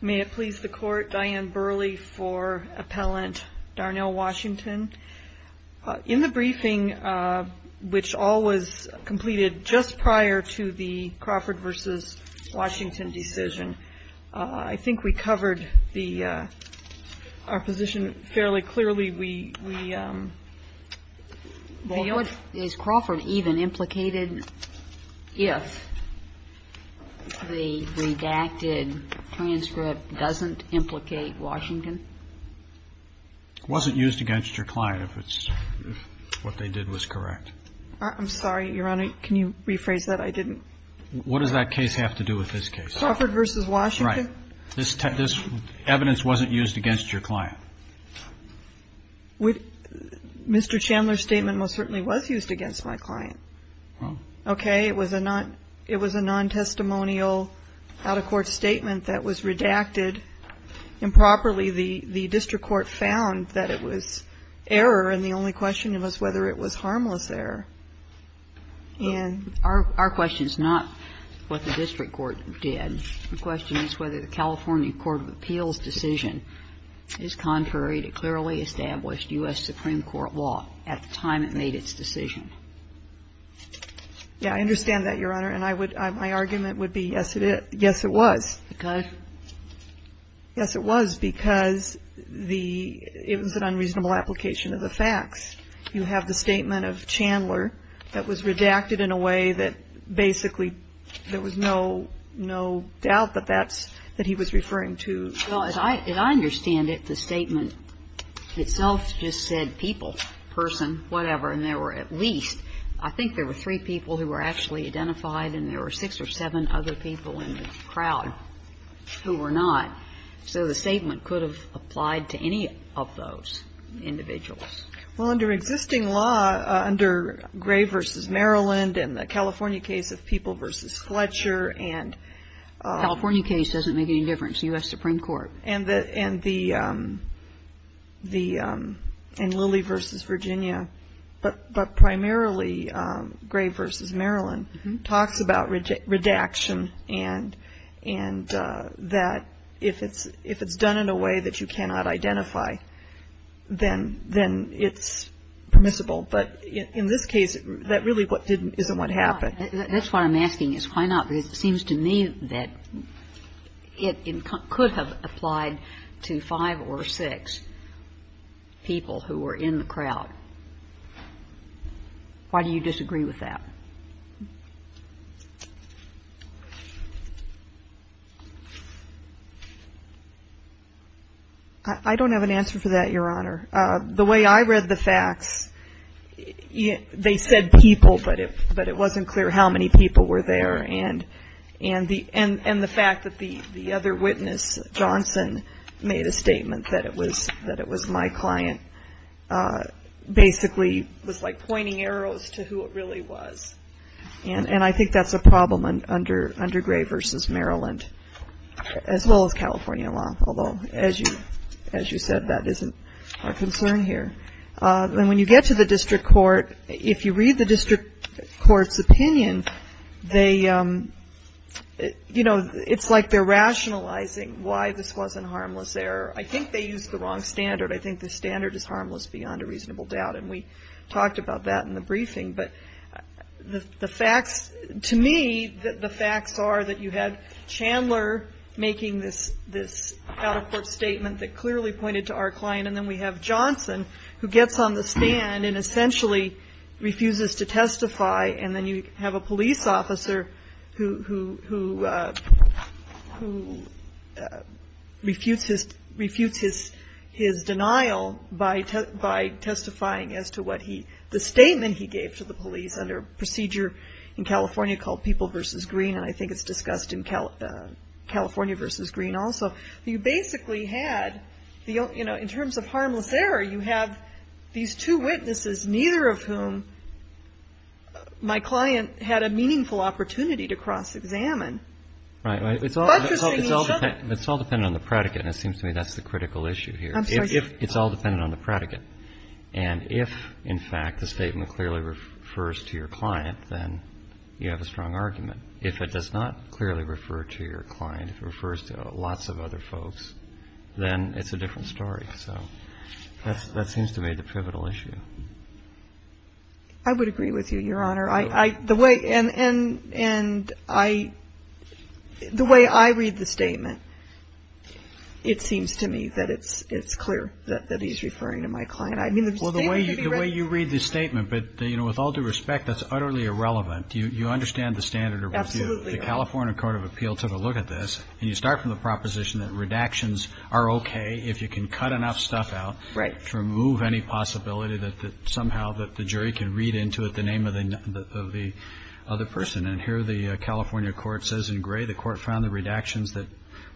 May it please the Court, Diane Burley for Appellant Darnell Washington. In the briefing, which all was completed just prior to the Crawford v. Washington decision, I think we can conclude that the redacted transcript doesn't implicate Washington. It wasn't used against your client if what they did was correct. I'm sorry, Your Honor. Can you rephrase that? I didn't. What does that case have to do with this case? Crawford v. Washington. Right. This evidence wasn't used against your client. Mr. Chandler's statement most certainly was used against my client. Well. Okay. It was a non-testimonial out-of-court statement that was redacted improperly. The district court found that it was error, and the only question was whether it was harmless error. And our question is not what the district court did. The question is whether the California Court of Appeals decision is contrary to clearly established U.S. Supreme Court law at the time it made its decision. Yeah. I understand that, Your Honor. And I would – my argument would be yes, it is. Yes, it was. Because? Yes, it was because the – it was an unreasonable application of the facts. You have the statement of Chandler that was redacted in a way that basically there was no doubt that that's – that he was referring to. Well, as I understand it, the statement itself just said people, person, whatever, and there were at least – I think there were three people who were actually identified, and there were six or seven other people in the crowd who were not. So the statement could have applied to any of those individuals. Well, under existing law, under Gray v. Maryland and the California case of People v. Fletcher and – California case doesn't make any difference, U.S. Supreme Court. And the – and the – and Lilly v. Virginia, but primarily Gray v. Maryland, talks about redaction and that if it's done in a way that you cannot identify, then it's permissible. But in this case, that really isn't what happened. That's what I'm asking is why not, because it seems to me that it could have applied to five or six people who were in the crowd. Why do you disagree with that? I don't have an answer for that, Your Honor. The way I read the facts, they said people, but it wasn't clear how many people were there. And the fact that the other witness, Johnson, made a statement that it was my client, basically was like pointing arrows to who it really was. And I think that's a problem under Gray v. Maryland, as well as California law, although, as you said, that isn't our concern here. And when you get to the district court, if you read the district court's opinion, they – you know, it's like they're rationalizing why this wasn't harmless there. I think they used the wrong standard. I think the standard is harmless beyond a reasonable doubt. And we talked about that in the briefing. But the facts – to me, the facts are that you had Chandler making this out-of-court statement that clearly pointed to our client, and then we have Johnson, who gets on the stand and essentially refuses to testify, and then you have a police officer who refutes his denial by testifying as to what he – the statement he gave to the police under a procedure in California called People v. Green, and I think it's discussed in California v. Green also. You basically had – you know, in terms of harmless error, you have these two witnesses, neither of whom my client had a meaningful opportunity to cross-examine. Right, right. It's all dependent on the predicate, and it seems to me that's the critical issue here. I'm sorry? It's all dependent on the predicate. And if, in fact, the statement clearly refers to your client, then you have a strong argument. If it does not clearly refer to your client, if it refers to lots of other folks, then it's a different story. So that seems to me the pivotal issue. I would agree with you, Your Honor. And I – the way I read the statement, it seems to me that it's clear that he's referring to my client. I mean, the statement could be right. Well, the way you read the statement, but, you know, with all due respect, that's utterly irrelevant. You understand the standard. Absolutely. The California Court of Appeal took a look at this, and you start from the proposition that redactions are okay if you can cut enough stuff out. Right. To remove any possibility that somehow the jury can read into it the name of the other person. And here the California court says in gray, the court found the redactions that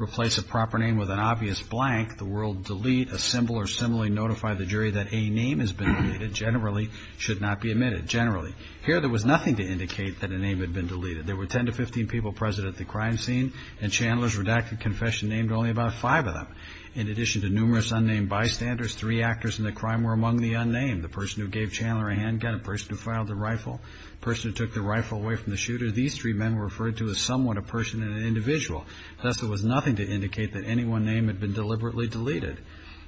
replace a proper name with an obvious blank, the world delete, assemble, or similarly notify the jury that a name has been deleted, generally should not be omitted. Generally. Here there was nothing to indicate that a name had been deleted. There were 10 to 15 people present at the crime scene, and Chandler's redacted confession named only about five of them. In addition to numerous unnamed bystanders, three actors in the crime were among the unnamed. The person who gave Chandler a handgun, the person who filed the rifle, the person who took the rifle away from the shooter. These three men were referred to as somewhat a person and an individual. Thus, there was nothing to indicate that any one name had been deliberately deleted.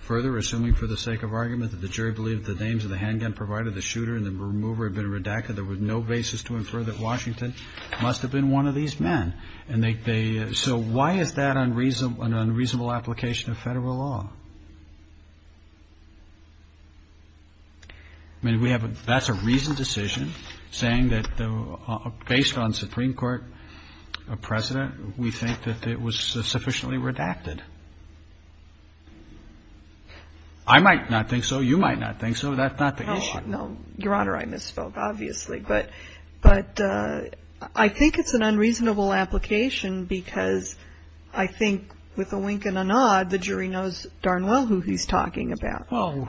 Further, assuming for the sake of argument that the jury believed the names of the handgun provided the shooter and the remover had been redacted, there was no basis to infer that Washington must have been one of these men. And so why is that an unreasonable application of Federal law? I mean, we have a reasoned decision saying that based on Supreme Court precedent, we think that it was sufficiently redacted. I might not think so. You might not think so. That's not the issue. No, Your Honor, I misspoke, obviously. But I think it's an unreasonable application because I think with a wink and a nod, the jury knows darn well who he's talking about. Well,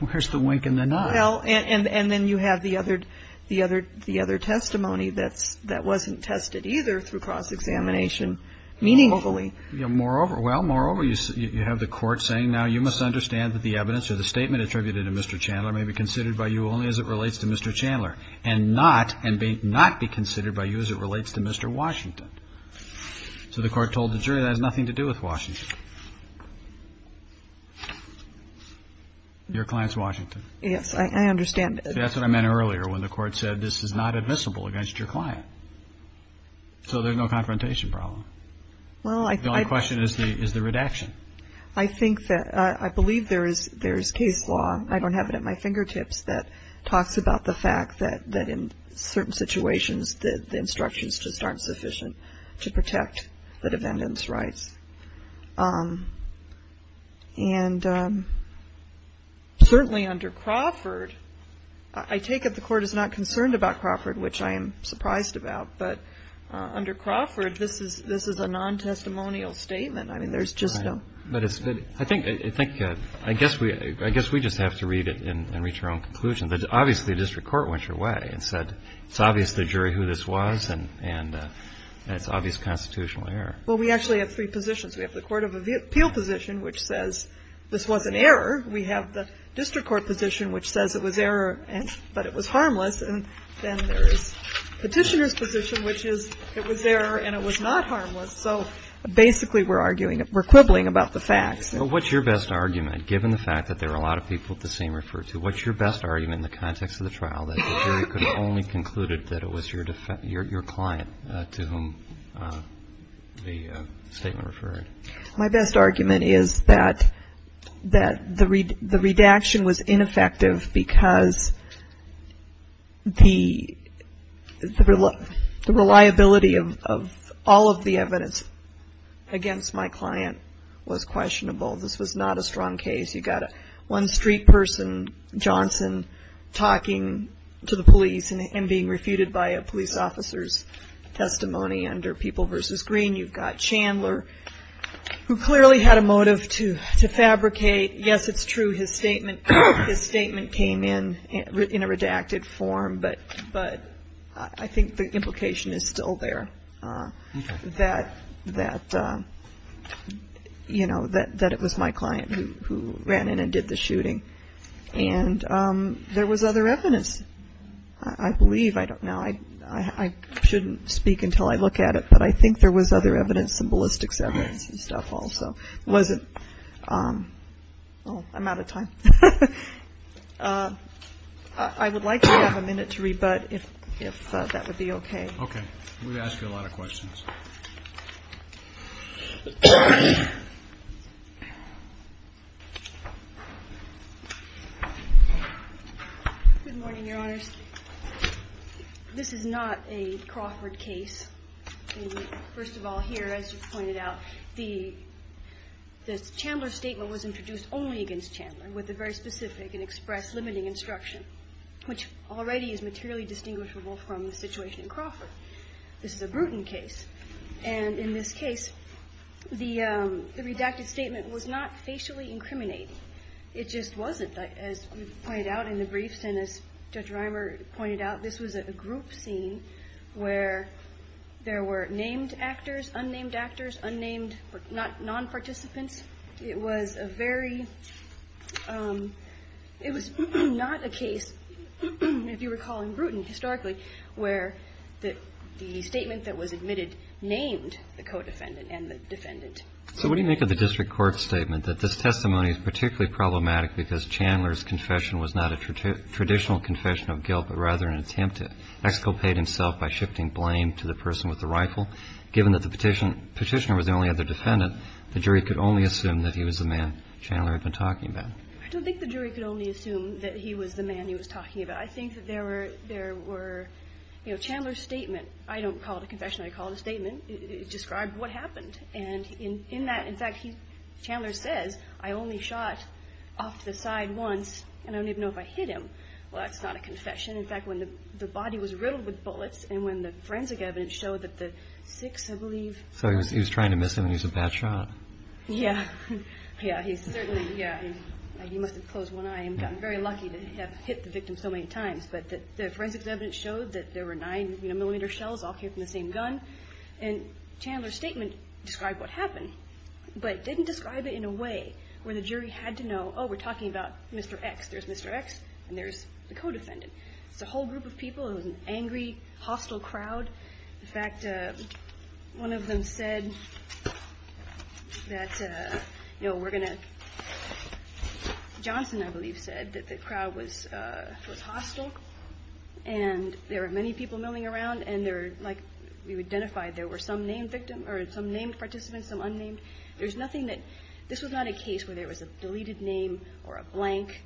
where's the wink and the nod? Well, and then you have the other testimony that wasn't tested either through cross-examination meaningfully. Moreover, well, moreover, you have the Court saying now you misunderstand that the evidence or the statement attributed to Mr. Chandler may be considered by you only as it relates to Mr. Chandler and not be considered by you as it relates to Mr. Washington. So the Court told the jury that has nothing to do with Washington. Your client's Washington. Yes, I understand. That's what I meant earlier when the Court said this is not admissible against your client. So there's no confrontation problem. Well, I think the only question is the redaction. I think that I believe there is case law, I don't have it at my fingertips, that talks about the fact that in certain situations the instructions just aren't sufficient to protect the defendant's rights. And certainly under Crawford, I take it the Court is not concerned about Crawford, which I am surprised about. But under Crawford, this is a non-testimonial statement. I mean, there's just no question. Right. But it's good. I think we just have to read it and reach our own conclusions. Obviously, the district court went your way and said it's obvious to the jury who this was, and it's obvious constitutional error. Well, we actually have three positions. We have the court of appeal position, which says this was an error. We have the district court position, which says it was error, but it was harmless. And then there is Petitioner's position, which is it was error and it was not harmless. So basically we're arguing, we're quibbling about the facts. Well, what's your best argument, given the fact that there are a lot of people that the same refer to? What's your best argument in the context of the trial that the jury could have only concluded that it was your client to whom the statement referred? My best argument is that the redaction was ineffective because the reliability of all of the evidence against my client was questionable. This was not a strong case. You've got one street person, Johnson, talking to the police and being refuted by a police officer's testimony under People v. Green. You've got Chandler, who clearly had a motive to fabricate. Yes, it's true, his statement came in in a redacted form, but I think the implication is still there. Okay. That it was my client who ran in and did the shooting. And there was other evidence. I believe, I don't know, I shouldn't speak until I look at it, but I think there was other evidence, some ballistics evidence and stuff also. Was it? Oh, I'm out of time. I would like to have a minute to rebut if that would be okay. Okay. We've asked you a lot of questions. Good morning, Your Honors. This is not a Crawford case. First of all, here, as you pointed out, the Chandler statement was introduced only against Chandler with a very specific and expressed limiting instruction, which already is materially distinguishable from the situation in Crawford. This is a Bruton case. And in this case, the redacted statement was not facially incriminating. It just wasn't. As we pointed out in the briefs and as Judge Reimer pointed out, this was a group scene where there were named actors, unnamed actors, unnamed non-participants. It was a very – it was not a case, if you recall, in Bruton historically where the statement that was admitted named the co-defendant and the defendant. So what do you make of the district court's statement that this testimony is particularly problematic because Chandler's confession was not a traditional confession of guilt, but rather an attempt to exculpate himself by shifting blame to the person with the rifle? Given that the petitioner was the only other defendant, the jury could only assume that he was the man Chandler had been talking about. I don't think the jury could only assume that he was the man he was talking about. I think that there were – there were – you know, Chandler's statement – I don't call it a confession. I call it a statement. It described what happened. And in that – in fact, he – Chandler says, I only shot off to the side once and I don't even know if I hit him. Well, that's not a confession. In fact, when the body was riddled with bullets and when the forensic evidence showed that the six, I believe – So he was trying to miss him and he was a bad shot. Yeah. Yeah, he certainly – yeah. You must have closed one eye and gotten very lucky to have hit the victim so many times. But the forensic evidence showed that there were nine, you know, millimeter shells all came from the same gun. And Chandler's statement described what happened, but it didn't describe it in a way where the jury had to know, oh, we're talking about Mr. X. There's Mr. X and there's the co-defendant. It's a whole group of people. It was an angry, hostile crowd. In fact, one of them said that, you know, we're going to – Johnson, I believe, said that the crowd was hostile and there were many people milling around and there, like we identified, there were some named participants, some unnamed. There's nothing that – this was not a case where there was a deleted name or a blank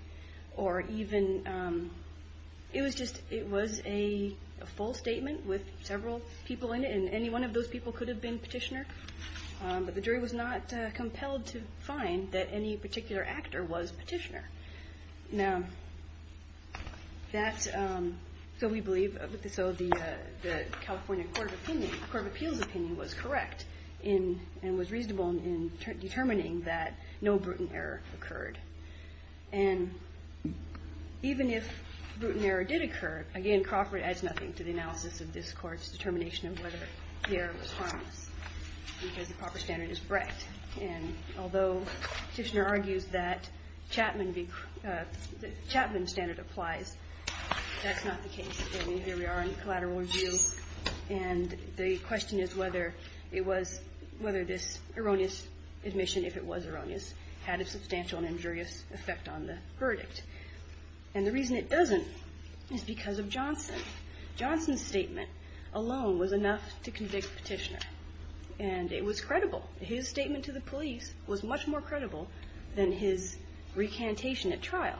or even – it was just – it was a statement with several people in it, and any one of those people could have been Petitioner. But the jury was not compelled to find that any particular actor was Petitioner. Now, that's – so we believe – so the California Court of Appeals opinion was correct and was reasonable in determining that no brutal error occurred. And even if brutal error did occur, again, Crawford adds nothing to the analysis of this Court's determination of whether the error was harmless because the proper standard is Brecht. And although Petitioner argues that Chapman – the Chapman standard applies, that's not the case. And here we are in collateral review, and the question is whether it was – whether this erroneous admission, if it was erroneous, had a substantial and injurious effect on the verdict. And the reason it doesn't is because of Johnson. Johnson's statement alone was enough to convict Petitioner. And it was credible. His statement to the police was much more credible than his recantation at trial.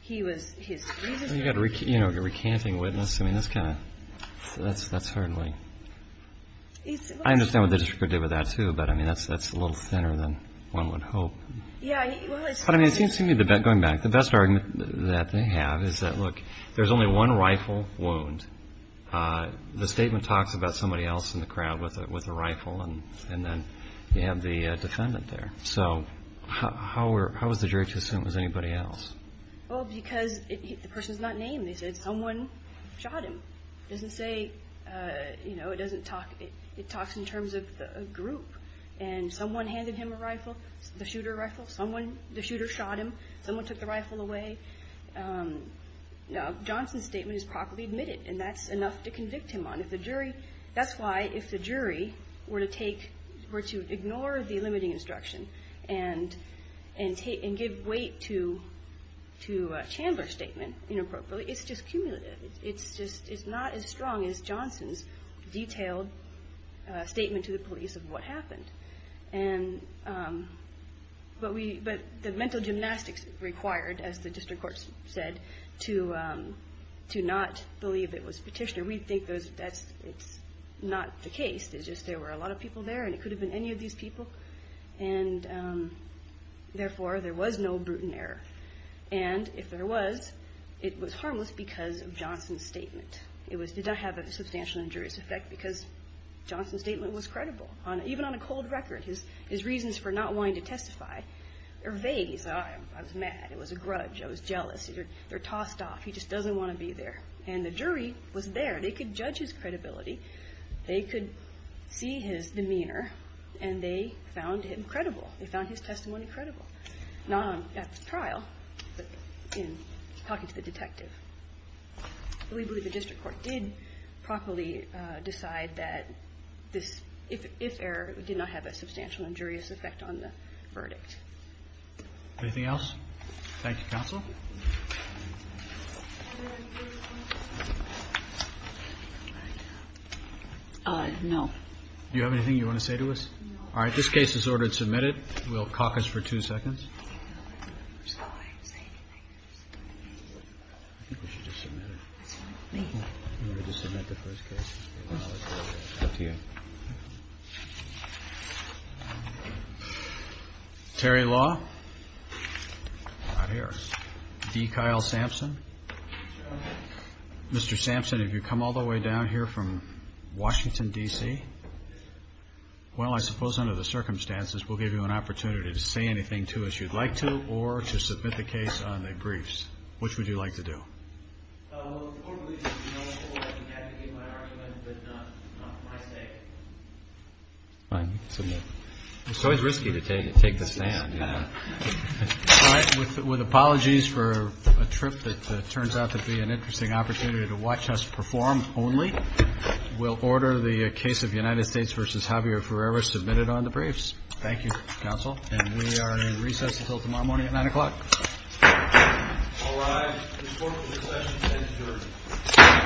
He was – his – Well, you've got a recanting witness. I mean, that's kind of – that's hardly – I understand what the district court did with that, too, but, I mean, that's a little thinner than one would hope. Yeah, well, it's – But, I mean, it seems to me, going back, the best argument that they have is that, look, there's only one rifle wound. The statement talks about somebody else in the crowd with a rifle, and then you have the defendant there. So how were – how was the jury to assume it was anybody else? Well, because the person's not named. They said someone shot him. It doesn't say – you know, it doesn't talk – it talks in terms of a group. And someone handed him a rifle, the shooter a rifle. Someone – the shooter shot him. Someone took the rifle away. Johnson's statement is properly admitted, and that's enough to convict him on. If the jury – that's why, if the jury were to take – were to ignore the limiting instruction and give weight to Chandler's statement inappropriately, it's just cumulative. It's just – it's not as strong as Johnson's detailed statement to the police of what happened. And – but we – but the mental gymnastics required, as the district court said, to not believe it was Petitioner. We think that's – it's not the case. It's just there were a lot of people there, and it could have been any of these people. And therefore, there was no brutal error. And if there was, it was harmless because of Johnson's statement. It was – did not have a substantial injurious effect because Johnson's statement was credible. Even on a cold record, his reasons for not wanting to testify are vague. He said, oh, I was mad. It was a grudge. I was jealous. They're tossed off. He just doesn't want to be there. And the jury was there. They could judge his credibility. They could see his demeanor, and they found him credible. They found his testimony credible. Not at the trial, but in talking to the detective. We believe the district court did properly decide that this, if error, did not have a substantial injurious effect on the verdict. Anything else? Thank you, counsel. No. Do you have anything you want to say to us? No. All right. This case is ordered submitted. We'll caucus for two seconds. I think we should just submit it. Thank you. We'll just submit the first case. Up to you. Terry Law. Not here. D. Kyle Sampson. Mr. Sampson, have you come all the way down here from Washington, D.C.? Well, I suppose under the circumstances, we'll give you an opportunity to say anything to us you'd like to, or to submit the case on the briefs. Which would you like to do? Well, the court believes it would be helpful to have you advocate my argument, but not for my sake. Fine. Submit. It's always risky to take the stand. All right. With apologies for a trip that turns out to be an interesting opportunity to watch us perform only, we'll order the case of United States v. Javier Ferreira submitted on the briefs. Thank you, counsel. And we are in recess until tomorrow morning at 9 o'clock. All rise. The court will recess and adjourn. Thank you. Thank you.